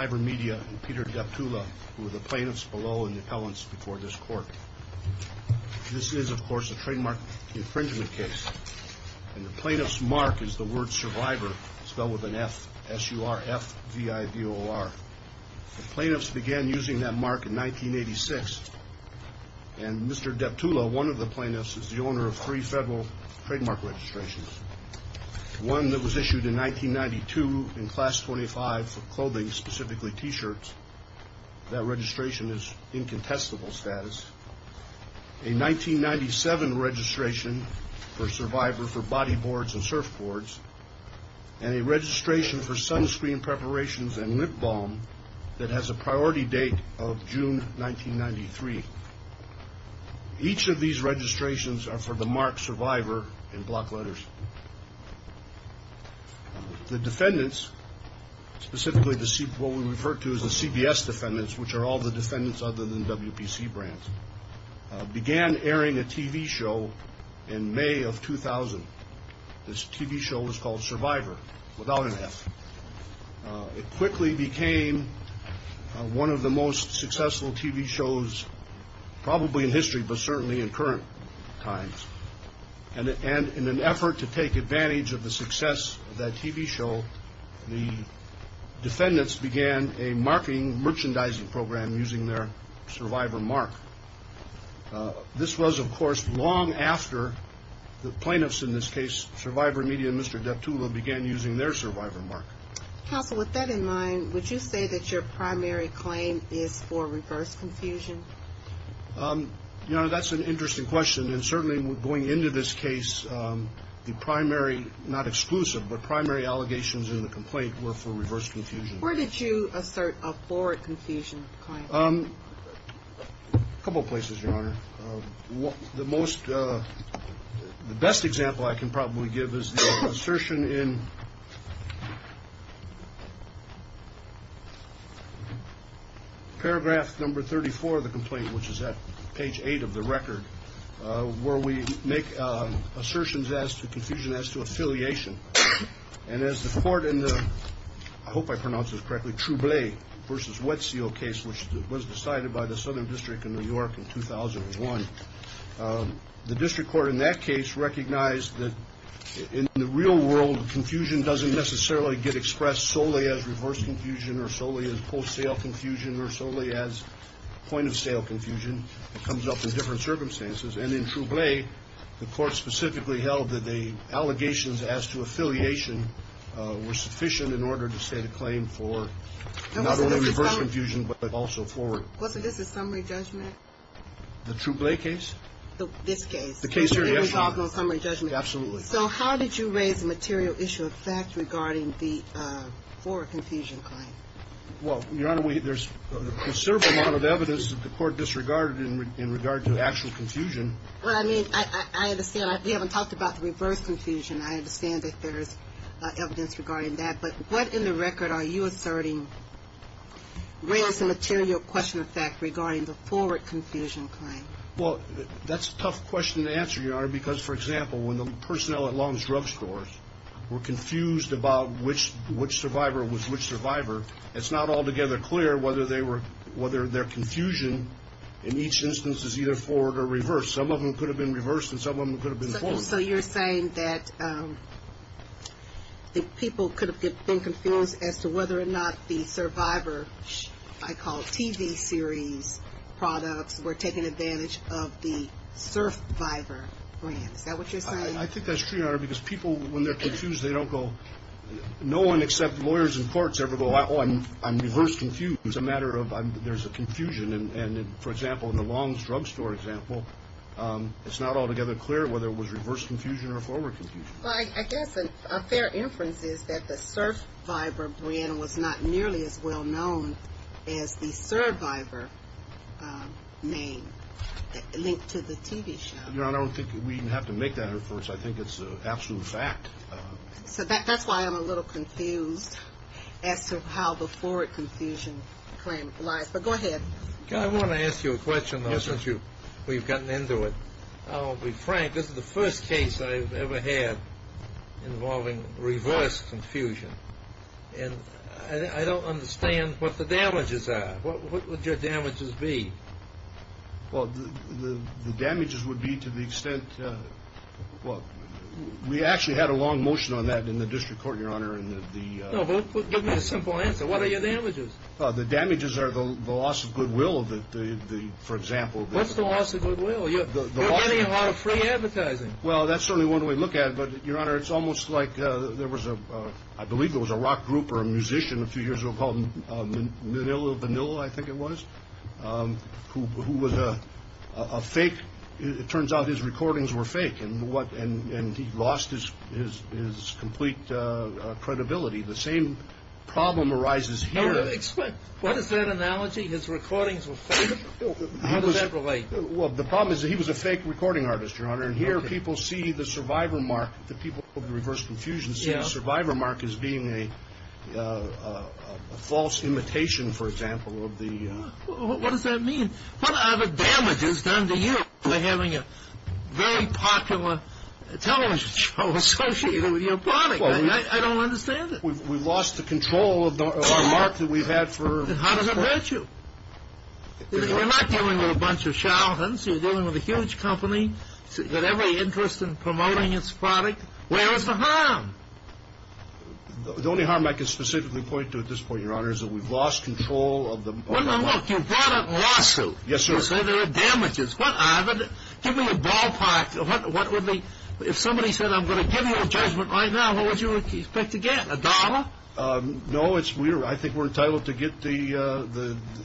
Ivor Media and Peter Deptula, who are the plaintiffs below in the appellants before this court. This is, of course, a trademark infringement case. And the plaintiff's mark is the word SURVIVOR, spelled with an F. S-U-R-F-V-I-V-O-R. The plaintiffs began using that mark in 1986. And Mr. Deptula, one of the plaintiffs, is the owner of three federal trademark registrations. One that was issued in 1992 in Class 25 for clothing, specifically T-shirts. That registration is incontestable status. A 1997 registration for SURVIVOR for body boards and surfboards. And a registration for sunscreen preparations and lip balm that has a priority date of June 1993. Each of these registrations are for the mark SURVIVOR in block letters. The defendants, specifically what we refer to as the CBS defendants, which are all the defendants other than WPC brands, began airing a TV show in May of 2000. This TV show was called SURVIVOR, without an F. It quickly became one of the most successful TV shows probably in history, but certainly in current times. And in an effort to take advantage of the success of that TV show, the defendants began a marketing merchandising program using their SURVIVOR mark. This was, of course, long after the plaintiffs in this case, SURVIVOR Media and Mr. Deptula, began using their SURVIVOR mark. Counsel, with that in mind, would you say that your primary claim is for reverse confusion? You know, that's an interesting question. And certainly going into this case, the primary, not exclusive, but primary allegations in the complaint were for reverse confusion. Where did you assert a forward confusion claim? A couple of places, Your Honor. The most, the best example I can probably give is the assertion in paragraph number 34 of the complaint, which is at page eight of the record, where we make assertions as to confusion as to affiliation. And as the court in the, I hope I pronounce this correctly, Trouble versus Wet Seal case, which was decided by the Southern District in New York in 2001, the district court in that case recognized that in the real world, confusion doesn't necessarily get expressed solely as reverse confusion or solely as wholesale confusion or solely as point of sale confusion. It comes up in different circumstances. And in Trouble, the court specifically held that the allegations as to affiliation were sufficient in order to state a claim for not only reverse confusion, but also forward. Wasn't this a summary judgment? The Trouble case? This case. The case here, yes. Was it involved in a summary judgment? Absolutely. So how did you raise the material issue of fact regarding the forward confusion claim? Well, Your Honor, there's a considerable amount of evidence that the court disregarded in regard to actual confusion. Well, I mean, I understand. We haven't talked about the reverse confusion. I understand that there's evidence regarding that. But what in the record are you asserting raised the material question of fact regarding the forward confusion claim? Well, that's a tough question to answer, Your Honor, because, for example, when the personnel at Long's Drug Stores were confused about which survivor was which survivor, it's not altogether clear whether their confusion in each instance is either forward or reverse. Some of them could have been reversed, and some of them could have been forward. So you're saying that the people could have been confused as to whether or not the Survivor, I call it, TV series products were taking advantage of the Survivor brand. Is that what you're saying? I think that's true, Your Honor, because people, when they're confused, they don't go. No one except lawyers in courts ever go, oh, I'm reverse confused. It's a matter of there's a confusion. And, for example, in the Long's Drug Store example, it's not altogether clear whether it was reverse confusion or forward confusion. Well, I guess a fair inference is that the Survivor brand was not nearly as well known as the Survivor name linked to the TV show. Your Honor, I don't think we even have to make that inference. I think it's an absolute fact. So that's why I'm a little confused as to how the forward confusion claim lies. But go ahead. I want to ask you a question, though, since we've gotten into it. I'll be frank. This is the first case I've ever had involving reverse confusion. And I don't understand what the damages are. What would your damages be? Well, the damages would be to the extent, well, we actually had a long motion on that in the district court, Your Honor. No, but give me a simple answer. What are your damages? The damages are the loss of goodwill, for example. What's the loss of goodwill? You're getting a lot of free advertising. Well, that's certainly one way to look at it. But, Your Honor, it's almost like there was a, I believe there was a rock group or a musician a few years ago called Manila, I think it was, who was a fake. It turns out his recordings were fake. And he lost his complete credibility. The same problem arises here. What is that analogy? His recordings were fake? How does that relate? Well, the problem is that he was a fake recording artist, Your Honor, and here people see the survivor mark. The people of the reverse confusion see the survivor mark as being a false imitation, for example, of the... What does that mean? What are the damages done to you for having a very popular television show associated with your body? I don't understand it. We've lost the control of our mark that we've had for... How does that hurt you? You're not dealing with a bunch of charlatans. You're dealing with a huge company with every interest in promoting its product. Where is the harm? The only harm I can specifically point to at this point, Your Honor, is that we've lost control of the mark. Well, now look, you brought up a lawsuit. Yes, sir. You say there are damages. Give me a ballpark. If somebody said, I'm going to give you a judgment right now, what would you expect to get, a dollar? No, I think we're entitled to get,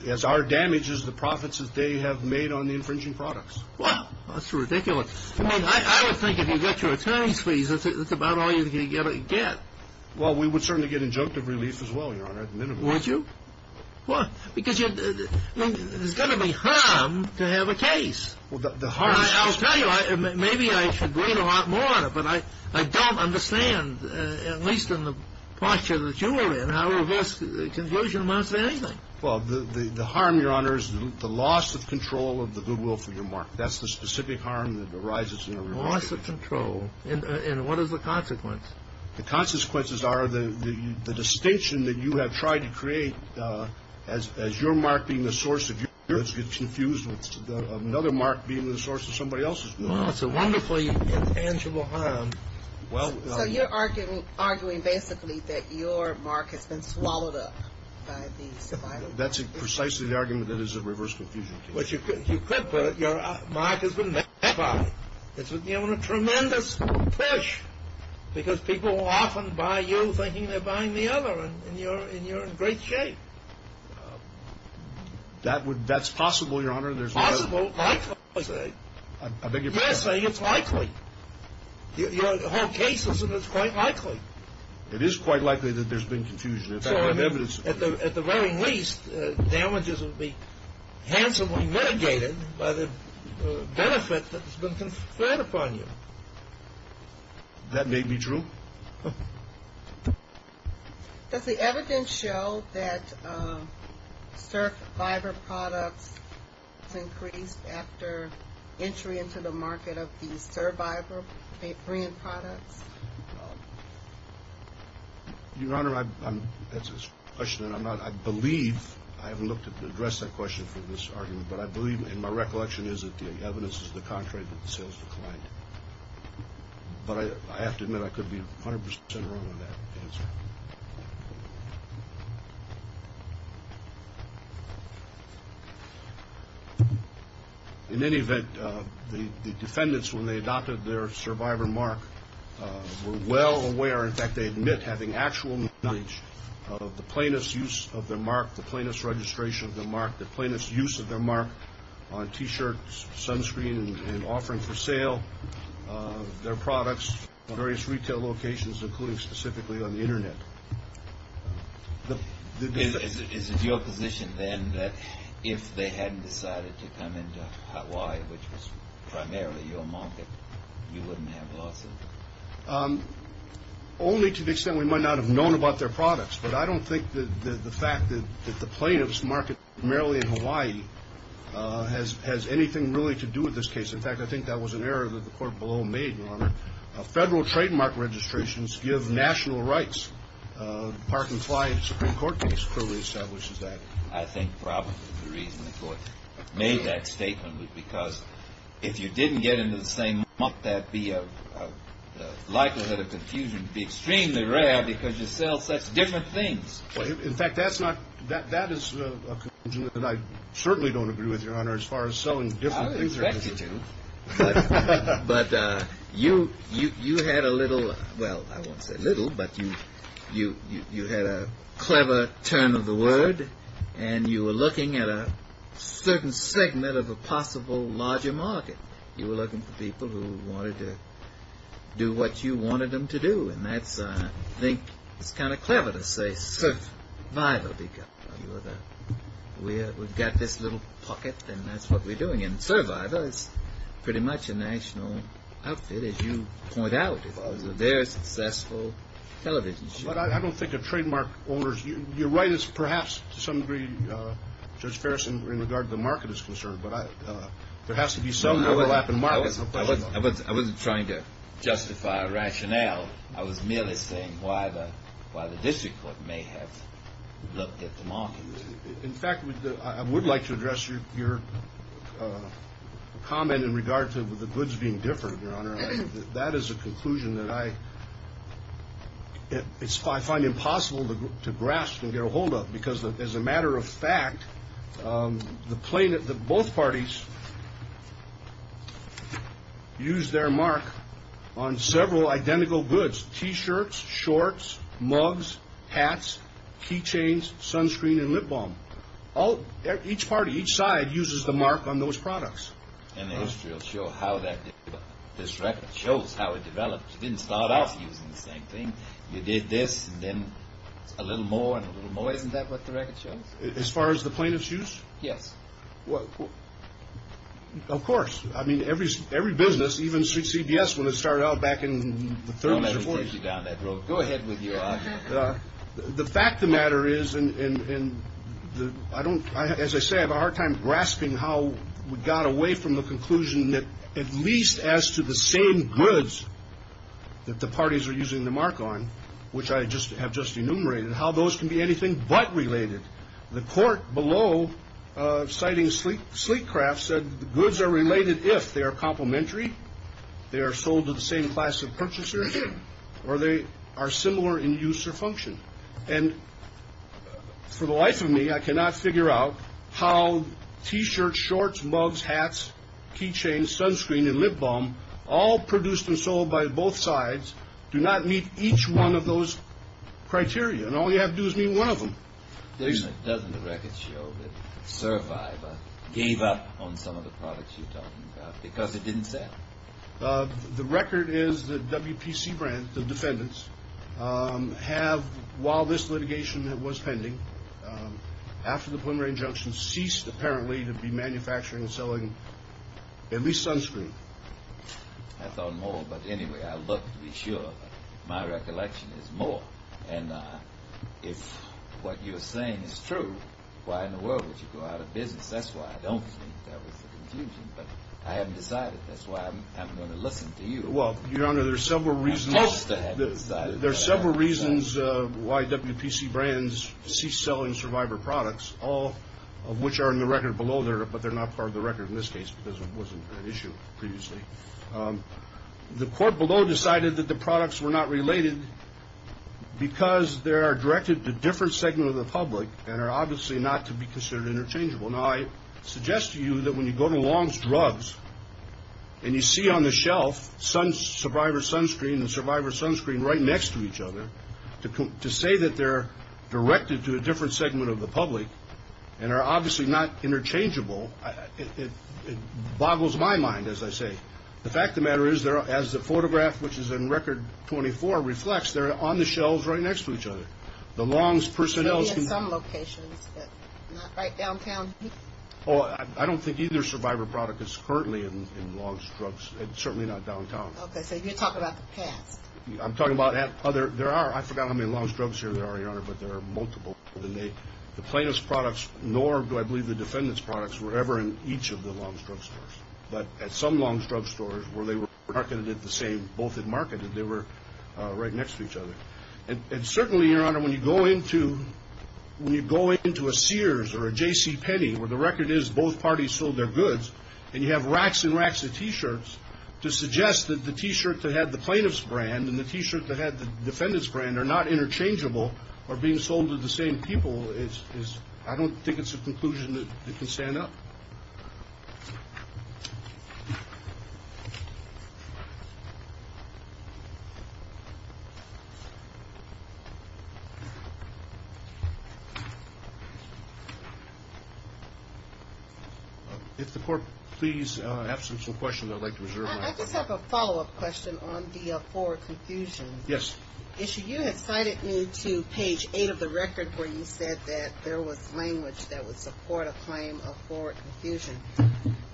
as are damages, the profits that they have made on the infringing products. Well, that's ridiculous. I mean, I would think if you get your attorney's fees, that's about all you're going to get. Well, we would certainly get injunctive release as well, Your Honor, at the minimum. Would you? What? Because there's got to be harm to have a case. I'll tell you, maybe I should read a lot more on it, but I don't understand, at least in the posture that you are in, how a reverse conclusion amounts to anything. Well, the harm, Your Honor, is the loss of control of the goodwill for your mark. That's the specific harm that arises in a reverse conclusion. Loss of control. And what is the consequence? The consequences are the distinction that you have tried to create, as your mark being the source of your confusion, another mark being the source of somebody else's confusion. Well, it's a wonderfully intangible harm. So you're arguing basically that your mark has been swallowed up by the survivor. That's precisely the argument that is a reverse conclusion case. Well, you could put it, your mark has been magnified. It's been given a tremendous push, because people will often buy you thinking they're buying the other, and you're in great shape. That's possible, Your Honor. Possible, likely, you're saying. I beg your pardon? You're saying it's likely. You hold cases and it's quite likely. It is quite likely that there's been confusion. Well, remember, at the very least, damages will be handsomely mitigated by the benefit that has been conferred upon you. That may be true. Does the evidence show that survivor products increased after entry into the market of these survivor paper-in products? Your Honor, that's a question that I'm not, I believe, I haven't looked to address that question for this argument, but I believe, and my recollection is that the evidence is the contrary, that the sales declined. But I have to admit, I could be 100% wrong on that answer. In any event, the defendants, when they adopted their survivor mark, were well aware, in fact, they admit having actual knowledge of the plaintiff's use of their mark, the plaintiff's registration of their mark, the plaintiff's use of their mark on T-shirts, sunscreen, and offerings for sale of their products at various retail locations, including specifically on the Internet. Is it your position, then, that if they hadn't decided to come into Hawaii, which was primarily your market, you wouldn't have lost them? Only to the extent we might not have known about their products. But I don't think that the fact that the plaintiff's market primarily in Hawaii has anything really to do with this case. In fact, I think that was an error that the court below made, Your Honor. Federal trademark registrations give national rights. The Park and Fly Supreme Court case clearly establishes that. I think probably the reason the court made that statement was because if you didn't get into the same market, the likelihood of confusion would be extremely rare because you sell such different things. In fact, that is a conclusion that I certainly don't agree with, Your Honor, as far as selling different things. But you had a little, well, I won't say little, but you had a clever turn of the word, and you were looking at a certain segment of a possible larger market. You were looking for people who wanted to do what you wanted them to do, and that's, I think, it's kind of clever to say survival because we've got this little pocket, and that's what we're doing, and survival is pretty much a national outfit, as you point out. It's a very successful television show. But I don't think a trademark owner's, you're right, it's perhaps to some degree, Judge Ferris, in regard to the market is concerned, but there has to be some overlap in markets. I wasn't trying to justify a rationale. I was merely saying why the district court may have looked at the market. In fact, I would like to address your comment in regard to the goods being different, Your Honor. That is a conclusion that I find impossible to grasp and get a hold of because, as a matter of fact, both parties use their mark on several identical goods, T-shirts, shorts, mugs, hats, keychains, sunscreen, and lip balm. Each party, each side uses the mark on those products. And the history will show how this record shows how it developed. You didn't start off using the same thing. You did this and then a little more and a little more. Isn't that what the record shows? As far as the plaintiff's use? Yes. Of course. I mean, every business, even CBS, when it started out back in the 30s or 40s. Go ahead with your argument. The fact of the matter is, and I don't, as I say, I have a hard time grasping how we got away from the conclusion that at least as to the same goods that the parties are using the mark on, which I have just enumerated, and how those can be anything but related. The court below, citing sleek craft, said the goods are related if they are complementary, they are sold to the same class of purchasers, or they are similar in use or function. And for the life of me, I cannot figure out how T-shirts, shorts, mugs, hats, keychains, sunscreen, and lip balm, all produced and sold by both sides, do not meet each one of those criteria. And all you have to do is meet one of them. Doesn't the record show that Survivor gave up on some of the products you're talking about because it didn't sell? The record is that WPC brand, the defendants, have, while this litigation was pending, after the Plum Rain Junction ceased apparently to be manufacturing and selling at least sunscreen. I thought more, but anyway, I looked to be sure. My recollection is more. And if what you're saying is true, why in the world would you go out of business? That's why I don't think that was the confusion. But I haven't decided. That's why I'm going to listen to you. Well, Your Honor, there are several reasons. I just haven't decided. There are several reasons why WPC brands cease selling Survivor products, all of which are in the record below, but they're not part of the record in this case because it wasn't an issue previously. The court below decided that the products were not related because they are directed to a different segment of the public and are obviously not to be considered interchangeable. Now, I suggest to you that when you go to Long's Drugs and you see on the shelf Survivor sunscreen and Survivor sunscreen right next to each other, to say that they're directed to a different segment of the public and are obviously not interchangeable, it boggles my mind, as I say. The fact of the matter is, as the photograph, which is in record 24, reflects, they're on the shelves right next to each other. The Long's personnel can be in some locations, but not right downtown. I don't think either Survivor product is currently in Long's Drugs, and certainly not downtown. Okay. So you're talking about the past. I'm talking about other. There are. I forgot how many Long's Drugs here there are, Your Honor, but there are multiple. The plaintiff's products, nor do I believe the defendant's products, were ever in each of the Long's Drugs stores. But at some Long's Drugs stores where they were marketed at the same, both had marketed, they were right next to each other. And certainly, Your Honor, when you go into a Sears or a JCPenney, where the record is both parties sold their goods, and you have racks and racks of T-shirts to suggest that the T-shirt that had the plaintiff's brand and the T-shirt that had the defendant's brand are not interchangeable or being sold to the same people, I don't think it's a conclusion that can stand up. If the Court, please, have some questions I'd like to reserve. I just have a follow-up question on the forward confusion. Yes. You had cited me to page 8 of the record where you said that there was language that would support a claim of forward confusion.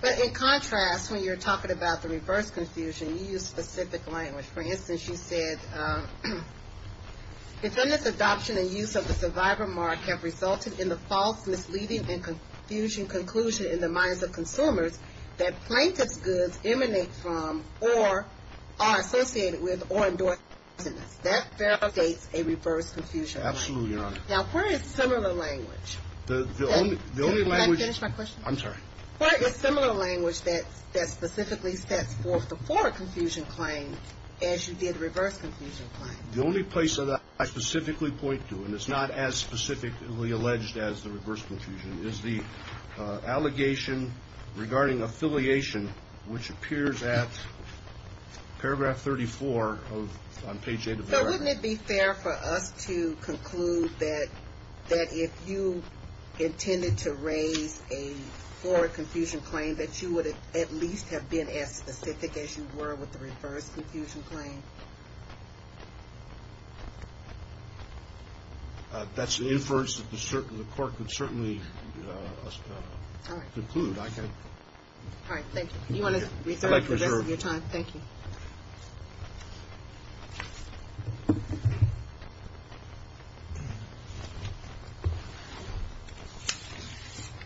But in contrast, when you're talking about the reverse confusion, you use specific language. For instance, you said, defendant's adoption and use of the survivor mark have resulted in the false, misleading, and confusion conclusion in the minds of consumers that plaintiff's goods emanate from or are associated with or endorse the defendant's. That verifies a reverse confusion claim. Absolutely, Your Honor. Now, where is similar language? The only language – Can I finish my question? I'm sorry. Where is similar language that specifically sets forth the forward confusion claim as you did reverse confusion claim? The only place that I specifically point to, and it's not as specifically alleged as the reverse confusion, is the allegation regarding affiliation, which appears at paragraph 34 on page 8 of the record. So wouldn't it be fair for us to conclude that if you intended to raise a forward confusion claim, that you would at least have been as specific as you were with the reverse confusion claim? That's an inference that the court could certainly conclude. All right, thank you. Do you want to reserve the rest of your time? I'd like to reserve. Thank you.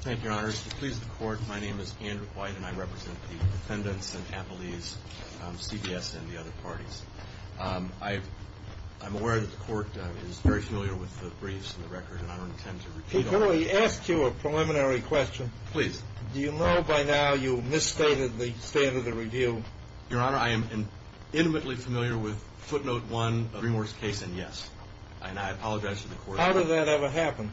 Thank you, Your Honor. If it pleases the Court, my name is Andrew White, and I represent the defendants and appellees, CBS and the other parties. I'm aware that the Court is very familiar with the briefs and the record, and I don't intend to repeat all of them. Can I ask you a preliminary question? Please. Do you know by now you misstated the state of the review? Your Honor, I am intimately familiar with footnote 1 of Greenewark's case, and yes. And I apologize to the Court. How did that ever happen?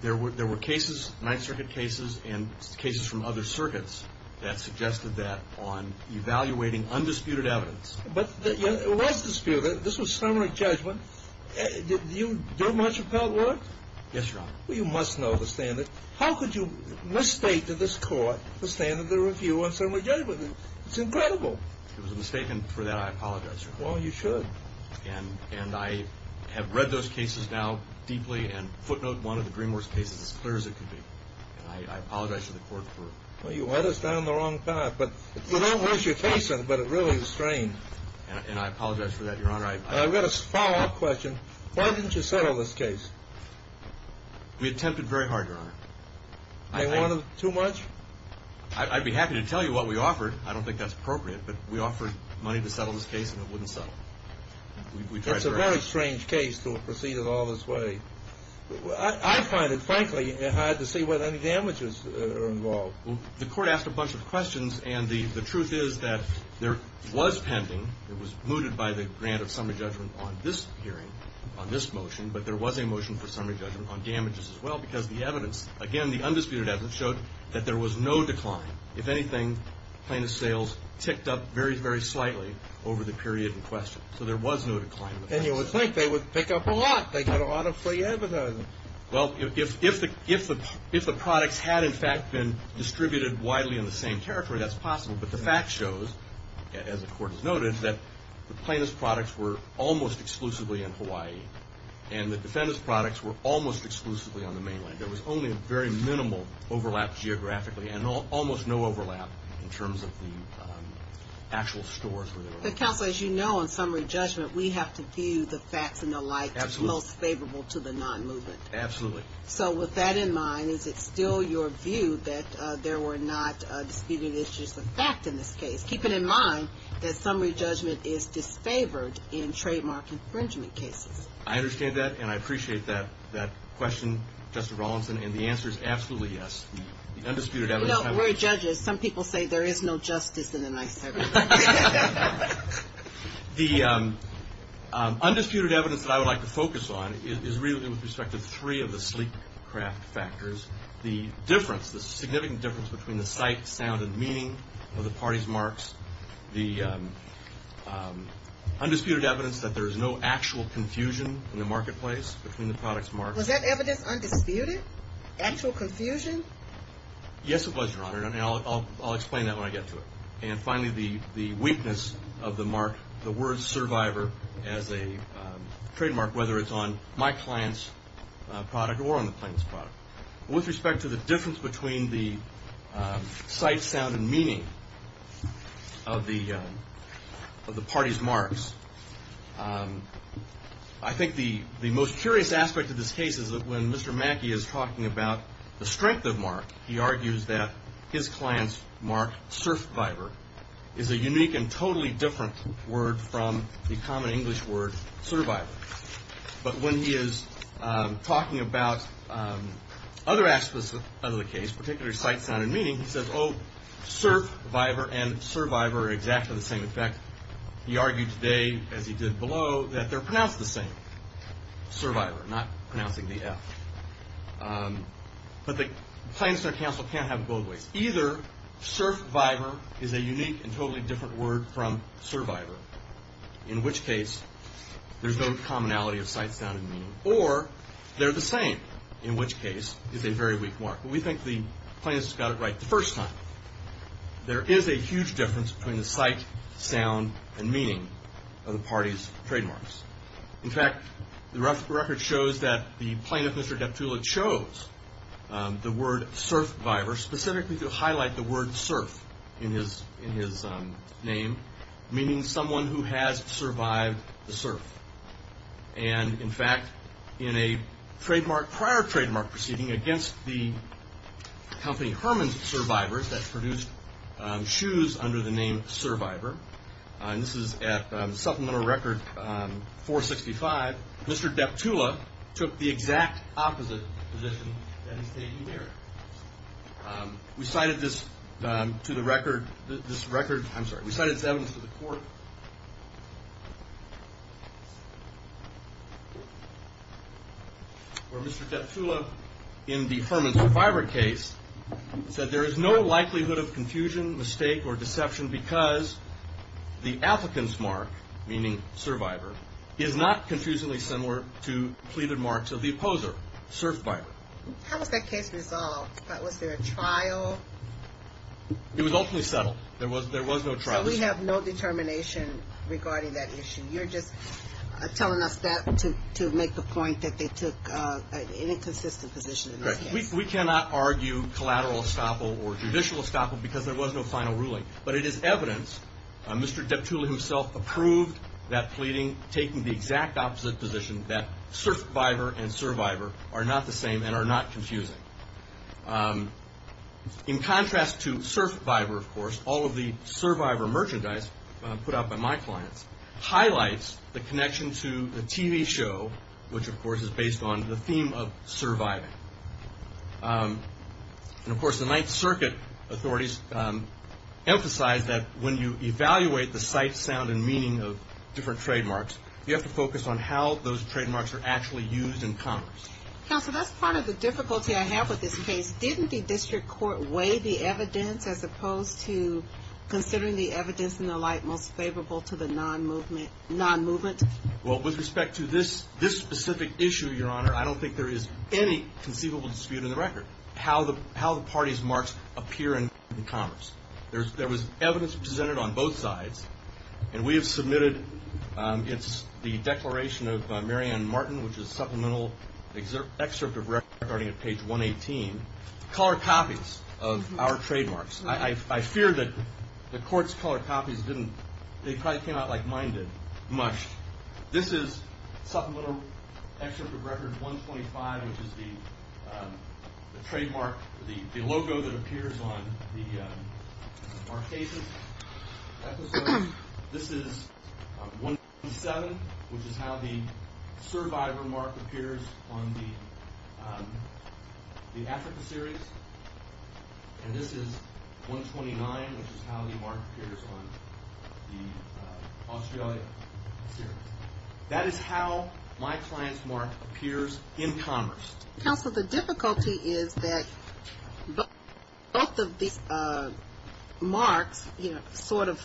There were cases, Ninth Circuit cases and cases from other circuits, that suggested that on evaluating undisputed evidence. But it was disputed. This was summary judgment. Did you do a much appellate work? Yes, Your Honor. Well, you must know the standard. How could you misstate to this Court the standard of the review on summary judgment? It's incredible. It was a mistake, and for that I apologize, Your Honor. Well, you should. And I have read those cases now deeply, and footnote 1 of the Greenewark's case is as clear as it could be. And I apologize to the Court for it. Well, you led us down the wrong path. You don't lose your case, but it really is strange. And I apologize for that, Your Honor. I've got a follow-up question. Why didn't you settle this case? We attempted very hard, Your Honor. They wanted too much? I'd be happy to tell you what we offered. I don't think that's appropriate, but we offered money to settle this case, and it wouldn't settle. It's a very strange case to proceed it all this way. I find it, frankly, hard to see whether any damages are involved. Well, the Court asked a bunch of questions, and the truth is that there was pending. It was mooted by the grant of summary judgment on this hearing, on this motion, but there was a motion for summary judgment on damages as well because the evidence, again, the undisputed evidence showed that there was no decline. If anything, plaintiff's sales ticked up very, very slightly over the period in question, so there was no decline. And you would think they would pick up a lot. They got a lot of free advertising. Well, if the products had, in fact, been distributed widely in the same territory, that's possible, but the fact shows, as the Court has noted, that the plaintiff's products were almost exclusively in Hawaii, and the defendant's products were almost exclusively on the mainland. There was only a very minimal overlap geographically, and almost no overlap in terms of the actual stores where they were. But, counsel, as you know, in summary judgment, we have to view the facts and the likes as most favorable to the non-movement. Absolutely. So with that in mind, is it still your view that there were not disputed issues of fact in this case, keeping in mind that summary judgment is disfavored in trademark infringement cases? I understand that, and I appreciate that question, Justice Rawlinson, and the answer is absolutely yes. The undisputed evidence. No, we're judges. Some people say there is no justice in the nice service. The undisputed evidence that I would like to focus on is really with respect to three of the sleek craft factors. The difference, the significant difference between the sight, sound, and meaning of the parties' marks. The undisputed evidence that there is no actual confusion in the marketplace between the products' marks. Was that evidence undisputed? Actual confusion? Yes, it was, Your Honor, and I'll explain that when I get to it. And finally, the weakness of the mark, the word survivor as a trademark, whether it's on my client's product or on the plaintiff's product. With respect to the difference between the sight, sound, and meaning of the party's marks, I think the most curious aspect of this case is that when Mr. Mackey is talking about the strength of mark, he argues that his client's mark, survivor, is a unique and totally different word from the common English word survivor. But when he is talking about other aspects of the case, particularly sight, sound, and meaning, he says, oh, survivor and survivor are exactly the same effect. He argued today, as he did below, that they're pronounced the same, survivor, not pronouncing the F. But the plaintiff's counsel can't have both ways. Either survivor is a unique and totally different word from survivor, in which case there's no commonality of sight, sound, and meaning, or they're the same, in which case it's a very weak mark. But we think the plaintiff's got it right the first time. There is a huge difference between the sight, sound, and meaning of the party's trademarks. In fact, the record shows that the plaintiff, Mr. Deptula, chose the word survivor specifically to highlight the word surf in his name, meaning someone who has survived the surf. And, in fact, in a prior trademark proceeding against the company Herman's Survivors that produced shoes under the name Survivor, and this is at Supplemental Record 465, Mr. Deptula took the exact opposite position that he's taking here. We cited this to the record, this record, I'm sorry, we cited this evidence to the court where Mr. Deptula, in the Herman Survivor case, said there is no likelihood of confusion, mistake, or deception because the applicant's mark, meaning survivor, is not confusingly similar to pleaded marks of the opposer, surfed by. How was that case resolved? Was there a trial? It was ultimately settled. There was no trial. So we have no determination regarding that issue. You're just telling us that to make the point that they took an inconsistent position in this case. We cannot argue collateral estoppel or judicial estoppel because there was no final ruling. But it is evidence, Mr. Deptula himself approved that pleading, taking the exact opposite position, that surfed by and survivor are not the same and are not confusing. In contrast to surfed by, of course, all of the survivor merchandise put out by my clients highlights the connection to the TV show, which, of course, is based on the theme of surviving. And, of course, the Ninth Circuit authorities emphasize that when you evaluate the sight, sound, and meaning of different trademarks, you have to focus on how those trademarks are actually used in Congress. Counsel, that's part of the difficulty I have with this case. Didn't the district court weigh the evidence as opposed to considering the evidence and the like most favorable to the non-movement? Well, with respect to this specific issue, Your Honor, I don't think there is any conceivable dispute in the record, how the parties' marks appear in Congress. There was evidence presented on both sides. And we have submitted the declaration of Marianne Martin, which is a supplemental excerpt of record starting at page 118, color copies of our trademarks. I fear that the court's color copies didn't, they probably came out like mine did, much. This is supplemental excerpt of record 125, which is the trademark, the logo that appears on our cases. This is 127, which is how the survivor mark appears on the Africa series. And this is 129, which is how the mark appears on the Australia series. That is how my client's mark appears in Congress. Counsel, the difficulty is that both of these marks, you know, sort of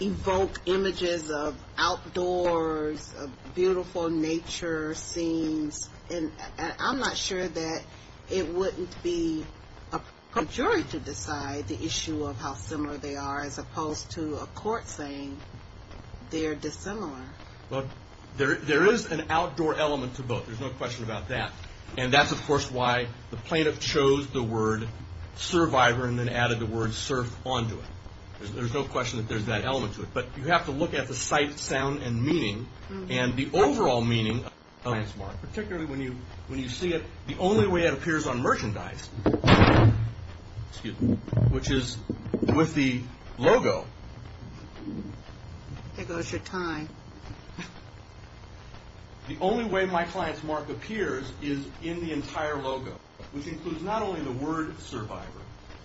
evoke images of outdoors, beautiful nature, scenes. And I'm not sure that it wouldn't be up to a jury to decide the issue of how similar they are as opposed to a court saying they're dissimilar. Well, there is an outdoor element to both. There's no question about that. And that's, of course, why the plaintiff chose the word survivor and then added the word surf onto it. There's no question that there's that element to it. But you have to look at the sight, sound, and meaning, and the overall meaning of the client's mark, particularly when you see it the only way it appears on merchandise, which is with the logo. Here goes your time. The only way my client's mark appears is in the entire logo, which includes not only the word survivor,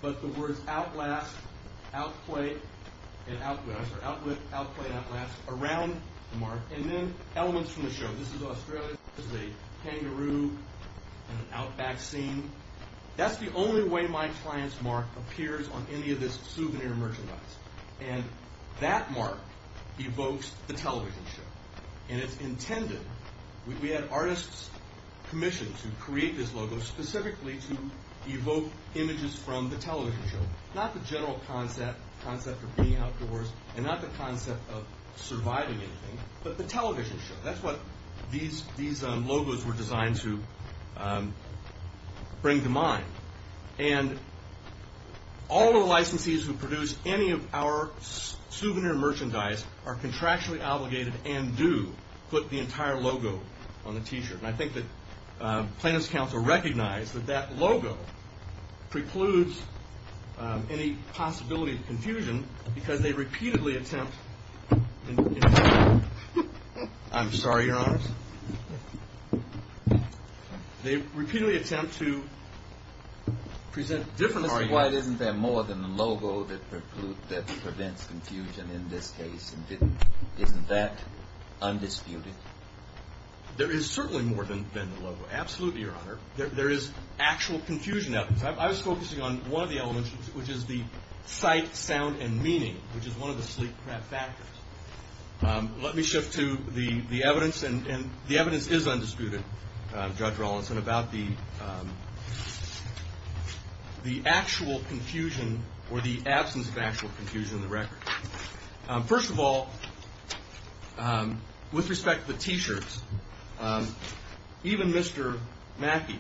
but the words Outlast, Outplay, and Outlast, or Outlift, Outplay, and Outlast around the mark. And then elements from the show. This is Australia. This is a kangaroo in an outback scene. That's the only way my client's mark appears on any of this souvenir merchandise. And that mark evokes the television show. And it's intended, we had artists commissioned to create this logo specifically to evoke images from the television show. Not the general concept of being outdoors, and not the concept of surviving anything, but the television show. That's what these logos were designed to bring to mind. And all the licensees who produce any of our souvenir merchandise are contractually obligated and do put the entire logo on the T-shirt. And I think that plaintiff's counsel recognize that that logo precludes any possibility of confusion, because they repeatedly attempt to present differences. Isn't there more than the logo that prevents confusion in this case? Isn't that undisputed? There is certainly more than the logo. Absolutely, Your Honor. There is actual confusion out there. I was focusing on one of the elements, which is the sight, sound, and meaning, which is one of the sleep factors. Let me shift to the evidence. And the evidence is undisputed, Judge Rawlinson, about the actual confusion or the absence of actual confusion in the record. First of all, with respect to the T-shirts, even Mr. Mackey,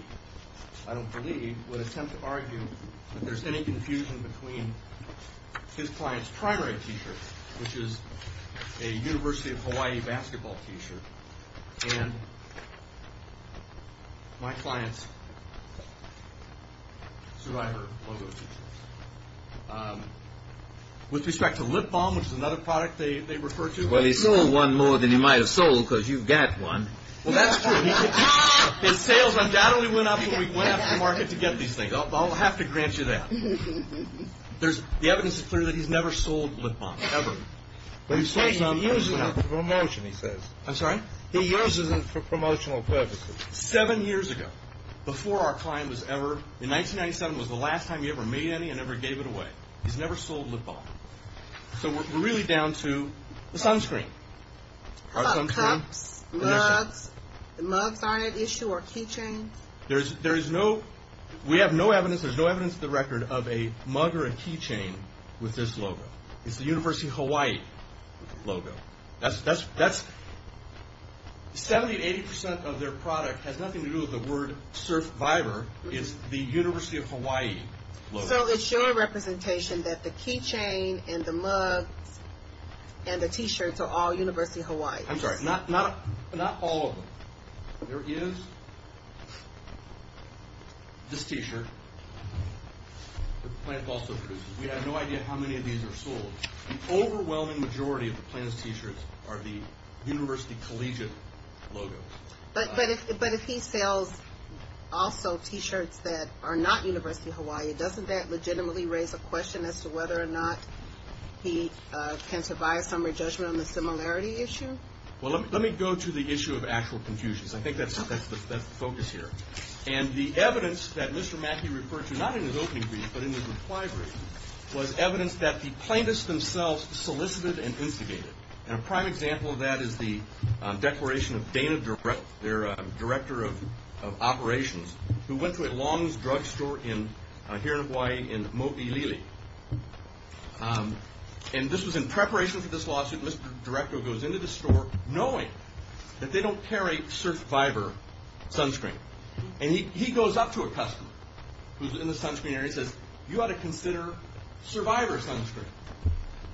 I don't believe, would attempt to argue that there's any confusion between his client's primary T-shirt, which is a University of Hawaii basketball T-shirt, and my client's survivor logo T-shirt. With respect to lip balm, which is another product they refer to. Well, he sold one more than he might have sold, because you've got one. Well, that's true. His sales undoubtedly went up when we went out to the market to get these things. I'll have to grant you that. The evidence is clear that he's never sold lip balm, ever. But he says he uses them for promotion, he says. I'm sorry? He uses them for promotional purposes. Seven years ago, before our client was ever, in 1997 was the last time he ever made any and ever gave it away. He's never sold lip balm. So we're really down to the sunscreen. How about cups, mugs? Mugs aren't an issue, or keychains? There is no, we have no evidence, there's no evidence of the record of a mug or a keychain with this logo. It's the University of Hawaii logo. Seventy to eighty percent of their product has nothing to do with the word Surf Viber. It's the University of Hawaii logo. So it's your representation that the keychain and the mug and the t-shirt are all University of Hawaii. I'm sorry, not all of them. There is this t-shirt that the plant also produces. We have no idea how many of these are sold. The overwhelming majority of the plaintiff's t-shirts are the University Collegiate logo. But if he sells also t-shirts that are not University of Hawaii, doesn't that legitimately raise a question as to whether or not he can survive some re-judgment on the similarity issue? Well, let me go to the issue of actual confusions. I think that's the focus here. And the evidence that Mr. Mackey referred to, not in his opening brief, but in his reply brief, was evidence that the plaintiffs themselves solicited and instigated. And a prime example of that is the declaration of Dana Durrett, their director of operations, who went to a longs drugstore here in Hawaii in Mo'olili. And this was in preparation for this lawsuit. Mr. Durretto goes into the store knowing that they don't carry Surf Viber sunscreen. And he goes up to a customer who's in the sunscreen area and says, you ought to consider Survivor sunscreen.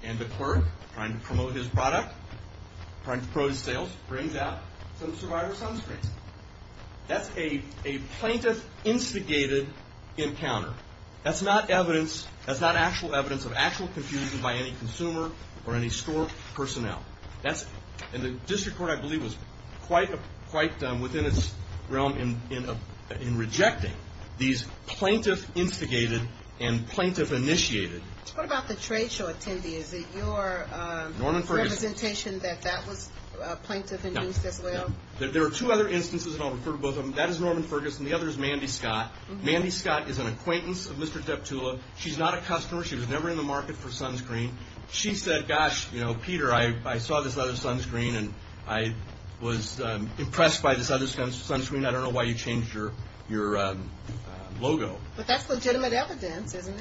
And the clerk, trying to promote his product, trying to promote his sales, brings out some Survivor sunscreen. That's a plaintiff-instigated encounter. That's not evidence, that's not actual evidence of actual confusion by any consumer or any store personnel. And the district court, I believe, was quite within its realm in rejecting these plaintiff-instigated and plaintiff-initiated. What about the trade show attendee? Is it your representation that that was plaintiff-induced as well? There are two other instances, and I'll refer to both of them. That is Norman Ferguson. The other is Mandy Scott. Mandy Scott is an acquaintance of Mr. Deptula. She's not a customer. She was never in the market for sunscreen. She said, gosh, you know, Peter, I saw this other sunscreen, and I was impressed by this other sunscreen. I don't know why you changed your logo. But that's legitimate evidence, isn't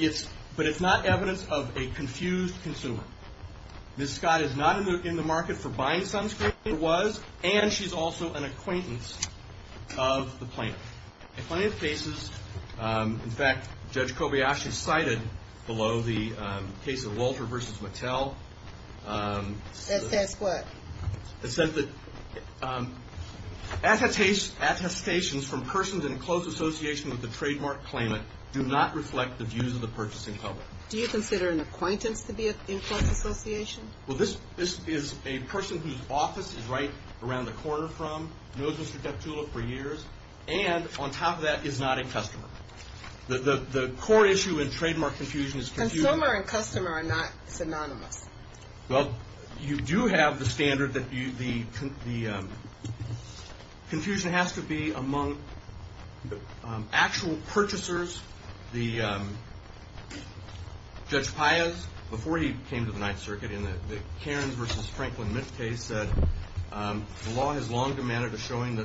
it? But it's not evidence of a confused consumer. Ms. Scott is not in the market for buying sunscreen. She was, and she's also an acquaintance of the plaintiff. The plaintiff faces, in fact, Judge Kobayashi cited below the case of Walter v. Mattel. That says what? It said that attestations from persons in close association with the trademark claimant do not reflect the views of the purchasing public. Do you consider an acquaintance to be in close association? Well, this is a person whose office is right around the corner from, knows Mr. Deptula for years, and on top of that, is not a customer. The core issue in trademark confusion is confusion. Consumer and customer are not synonymous. Well, you do have the standard that the confusion has to be among actual purchasers. Judge Paez, before he came to the Ninth Circuit in the Cairns v. Franklin case, said the law has long demanded a showing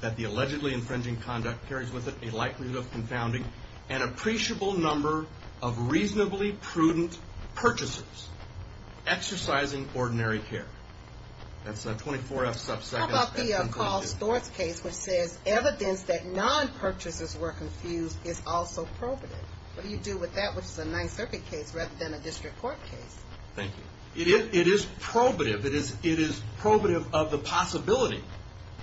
that the allegedly infringing conduct carries with it a likelihood of confounding an appreciable number of reasonably prudent purchasers exercising ordinary care. That's a 24-F subsection. How about the Carl Stortz case, which says evidence that non-purchasers were confused is also probative? What do you do with that, which is a Ninth Circuit case rather than a district court case? Thank you. It is probative. It is probative of the possibility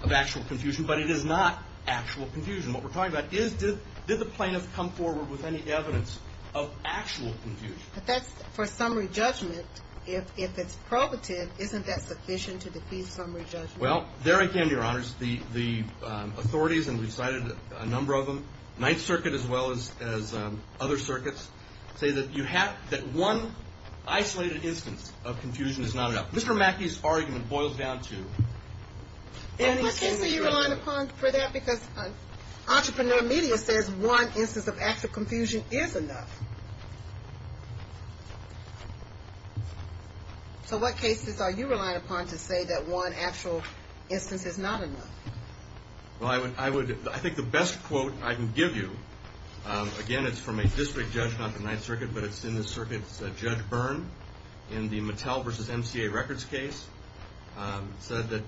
of actual confusion, but it is not actual confusion. What we're talking about is did the plaintiff come forward with any evidence of actual confusion? But that's for summary judgment. If it's probative, isn't that sufficient to defeat summary judgment? Well, there again, Your Honors, the authorities, and we've cited a number of them, the Ninth Circuit as well as other circuits, say that one isolated instance of confusion is not enough. Mr. Mackey's argument boils down to any single judgment. What case are you relying upon for that? Because entrepreneur media says one instance of actual confusion is enough. So what cases are you relying upon to say that one actual instance is not enough? Well, I think the best quote I can give you, again, it's from a district judge, not the Ninth Circuit, but it's in the circuit's Judge Byrne in the Mattel v. MCA records case, said that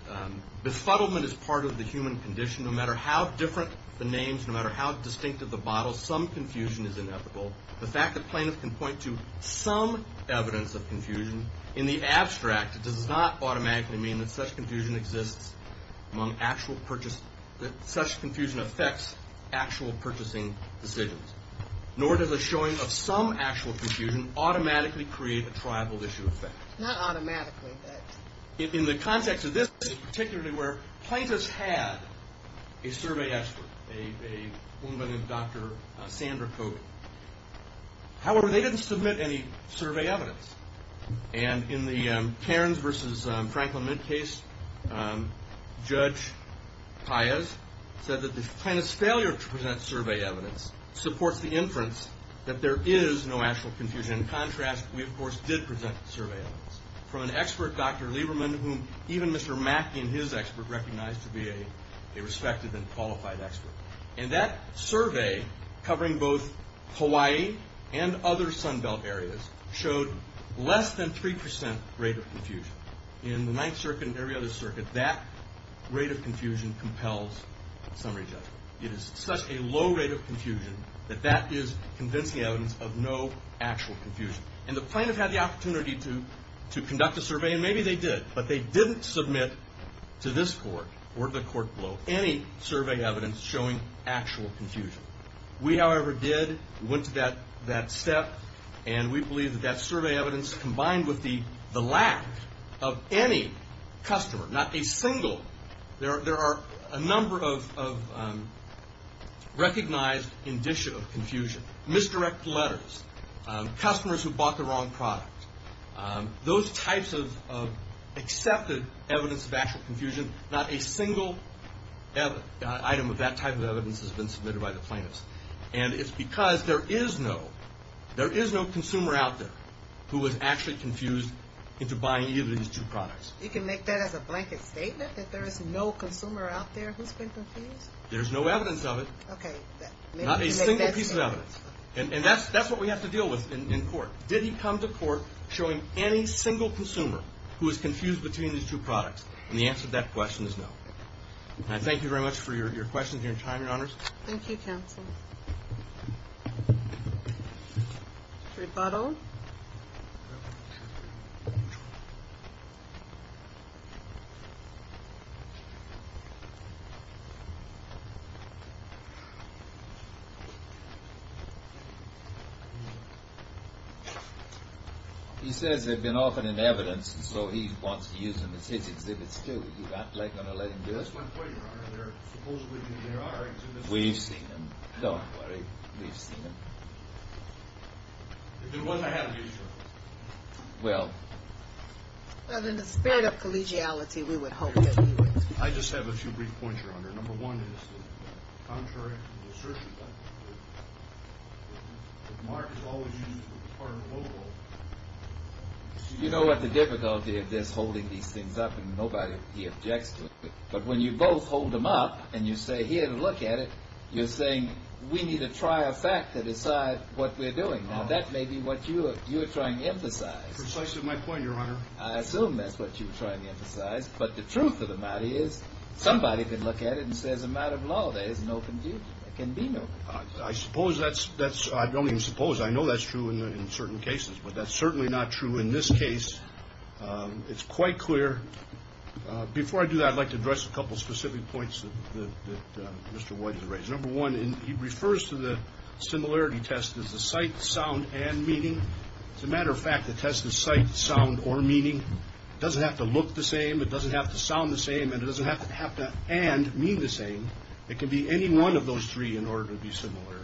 befuddlement is part of the human condition. No matter how different the names, no matter how distinctive the bottles, some confusion is inevitable. The fact that plaintiffs can point to some evidence of confusion in the abstract does not automatically mean that such confusion exists among actual purchase, that such confusion affects actual purchasing decisions. Nor does a showing of some actual confusion automatically create a tribal issue effect. Not automatically, but. In the context of this, particularly where plaintiffs had a survey expert, a woman named Dr. Sandra Kogan. However, they didn't submit any survey evidence. And in the Cairns v. Franklin Mint case, Judge Paez said that the plaintiff's failure to present survey evidence supports the inference that there is no actual confusion. In contrast, we, of course, did present survey evidence from an expert, Dr. Lieberman, whom even Mr. Mackey and his expert recognized to be a respected and qualified expert. And that survey, covering both Hawaii and other Sun Belt areas, showed less than 3% rate of confusion. In the Ninth Circuit and every other circuit, that rate of confusion compels summary judgment. It is such a low rate of confusion that that is convincing evidence of no actual confusion. And the plaintiff had the opportunity to conduct a survey, and maybe they did, but they didn't submit to this court or the court below any survey evidence showing actual confusion. We, however, did. We went to that step. And we believe that that survey evidence, combined with the lack of any customer, not a single. There are a number of recognized indicia of confusion. Misdirect letters. Customers who bought the wrong product. Those types of accepted evidence of actual confusion, not a single item of that type of evidence has been submitted by the plaintiffs. And it's because there is no consumer out there who was actually confused into buying either of these two products. You can make that as a blanket statement, that there is no consumer out there who's been confused? There's no evidence of it. Okay. Not a single piece of evidence. And that's what we have to deal with in court. Did he come to court showing any single consumer who was confused between these two products? And the answer to that question is no. And I thank you very much for your questions and your time, Your Honors. Thank you, Counsel. Rebuttal. He says they've been offered an evidence, and so he wants to use them as his exhibits too. You're not going to let him do it? We've seen them. Don't worry. We've seen them. Well. Well, in the spirit of collegiality, we would hope that he would. I just have a few brief points, Your Honor. Number one is that contrary to the assertion that Mark has always used it as part of a loophole. You know what the difficulty of this holding these things up, and nobody objects to it, but when you both hold them up and you say here to look at it, you're saying we need to try a fact to decide what we're doing. Now, that may be what you're trying to emphasize. Precisely my point, Your Honor. I assume that's what you're trying to emphasize. But the truth of the matter is somebody could look at it and say, as a matter of law, there is no confusion. There can be no confusion. I suppose that's – I don't even suppose. I know that's true in certain cases, but that's certainly not true in this case. It's quite clear. Before I do that, I'd like to address a couple specific points that Mr. White has raised. Number one, he refers to the similarity test as the sight, sound, and meaning. As a matter of fact, the test is sight, sound, or meaning. It doesn't have to look the same. It doesn't have to sound the same, and it doesn't have to and mean the same. It can be any one of those three in order to be similarity.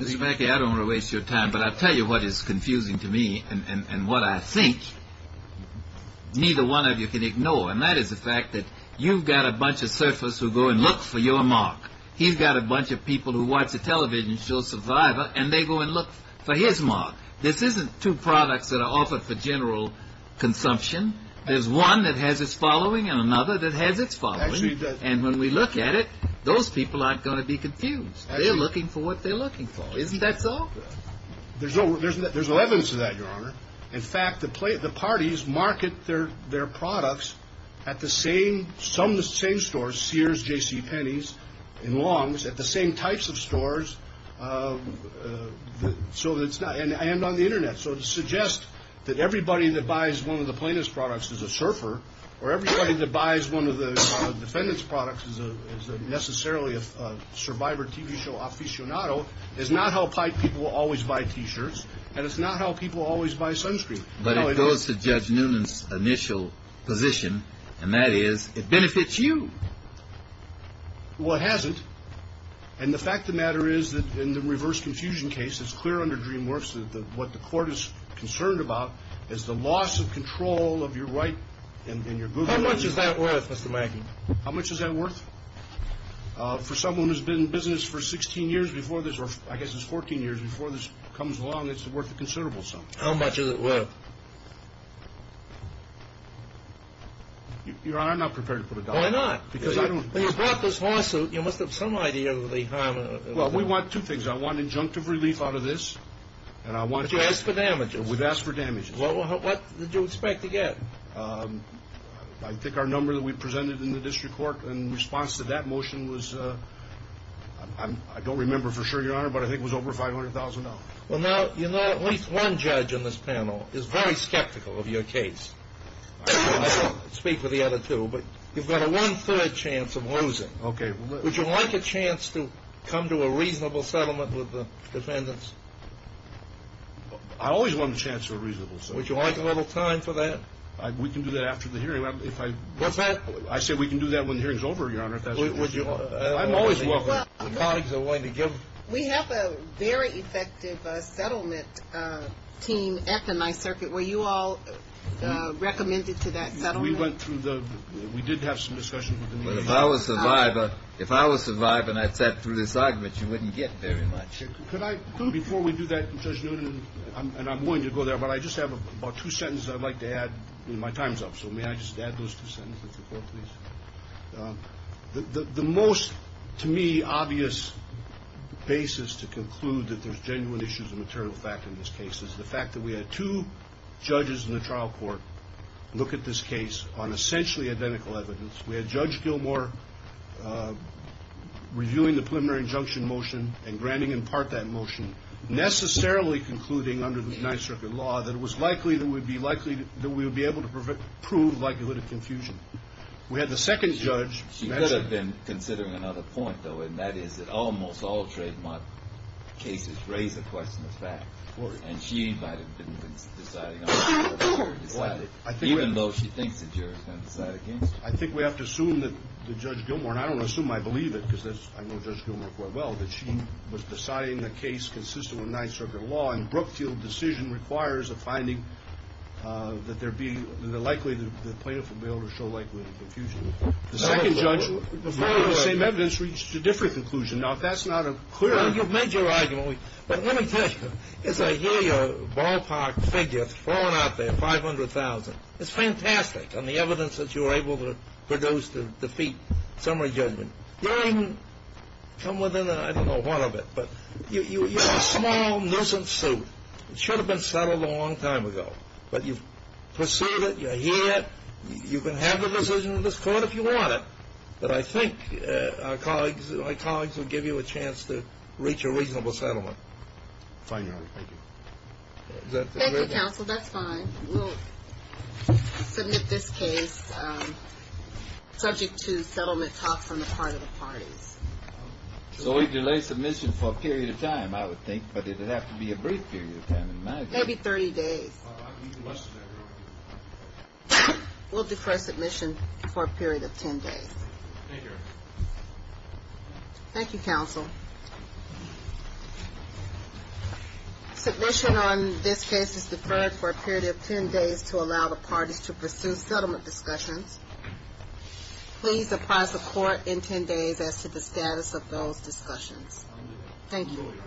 Mr. Mackey, I don't want to waste your time, but I'll tell you what is confusing to me and what I think neither one of you can ignore, and that is the fact that you've got a bunch of surfers who go and look for your mark. He's got a bunch of people who watch the television show Survivor, and they go and look for his mark. This isn't two products that are offered for general consumption. There's one that has its following and another that has its following. And when we look at it, those people aren't going to be confused. They're looking for what they're looking for. Isn't that so? There's no evidence of that, Your Honor. In fact, the parties market their products at the same stores, Sears, J.C. Penney's, and Long's, at the same types of stores, and on the Internet. So to suggest that everybody that buys one of the plaintiff's products is a surfer or everybody that buys one of the defendant's products is necessarily a Survivor TV show aficionado is not how pipe people always buy T-shirts, and it's not how people always buy sunscreen. But it goes to Judge Noonan's initial position, and that is it benefits you. Well, it hasn't. And the fact of the matter is that in the reverse confusion case, it's clear under DreamWorks that what the court is concerned about is the loss of control of your right and your boogers. How much is that worth, Mr. Mackey? How much is that worth? For someone who's been in business for 16 years before this, or I guess it's 14 years before this comes along, it's worth a considerable sum. How much is it worth? Your Honor, I'm not prepared to put a dollar. Why not? Because I don't. When you brought this lawsuit, you must have some idea of the harm. Well, we want two things. I want injunctive relief out of this, and I want... But you asked for damages. We've asked for damages. Well, what did you expect to get? I think our number that we presented in the district court in response to that motion was, I don't remember for sure, Your Honor, but I think it was over $500,000. Well, now, you know at least one judge in this panel is very skeptical of your case. I don't speak for the other two, but you've got a one-third chance of losing. Okay. Would you like a chance to come to a reasonable settlement with the defendants? I always want a chance for a reasonable settlement. Would you like a little time for that? We can do that after the hearing. What's that? I said we can do that when the hearing is over, Your Honor, if that's what you want. I'm always welcome. Well, we have a very effective settlement team at the Nye Circuit. We did have some discussions with the Nye Circuit. If I was a survivor and I sat through this argument, you wouldn't get very much. Before we do that, Judge Newton, and I'm willing to go there, but I just have about two sentences I'd like to add. My time's up, so may I just add those two sentences before, please? The most, to me, obvious basis to conclude that there's genuine issues of material fact in this case is the fact that we had two judges in the trial court look at this case on essentially identical evidence. We had Judge Gilmour reviewing the preliminary injunction motion and granting in part that motion, necessarily concluding under the Nye Circuit law that it was likely that we would be able to prove likelihood of confusion. We had the second judge. She could have been considering another point, though, and that is that almost all trademark cases raise the question of fact. And she might have been deciding on that. Even though she thinks the jury's going to decide against her. I think we have to assume that Judge Gilmour, and I don't assume I believe it because I know Judge Gilmour quite well, that she was deciding the case consistent with Nye Circuit law and Brookfield decision requires a finding that there'd be, that likely the plaintiff would be able to show likelihood of confusion. The second judge, the same evidence reached a different conclusion. Now, if that's not a clear argument. Well, you've made your argument. But let me tell you, as I hear your ballpark figure, it's flowing out there, 500,000. It's fantastic on the evidence that you were able to produce to defeat summary judgment. You didn't come within, I don't know, one of it. But you have a small nuisance suit. It should have been settled a long time ago. But you've pursued it. You're here. You can have the decision of this Court if you want it. But I think our colleagues, my colleagues would give you a chance to reach a reasonable settlement. Fine, Your Honor. Thank you. Thank you, counsel. That's fine. We'll submit this case subject to settlement talks on the part of the parties. So we delay submission for a period of time, I would think. But it would have to be a brief period of time, in my view. Maybe 30 days. I can do less than that, Your Honor. We'll defer submission for a period of 10 days. Thank you, Your Honor. Thank you, counsel. Submission on this case is deferred for a period of 10 days to allow the parties to pursue settlement discussions. Please apprise the Court in 10 days as to the status of those discussions. Thank you. Thank you.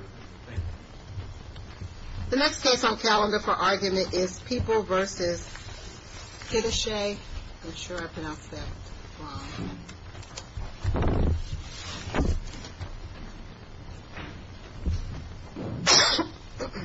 The next case on calendar for argument is People v. Kittiche. I'm sure I pronounced that wrong. All right.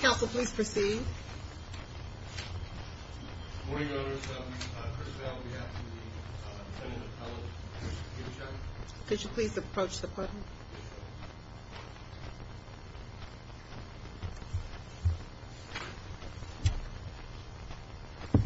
Counsel, please proceed. Good morning, Your Honor. First of all, on behalf of the Senate appellate, Mr. Kittiche. Could you please approach the podium?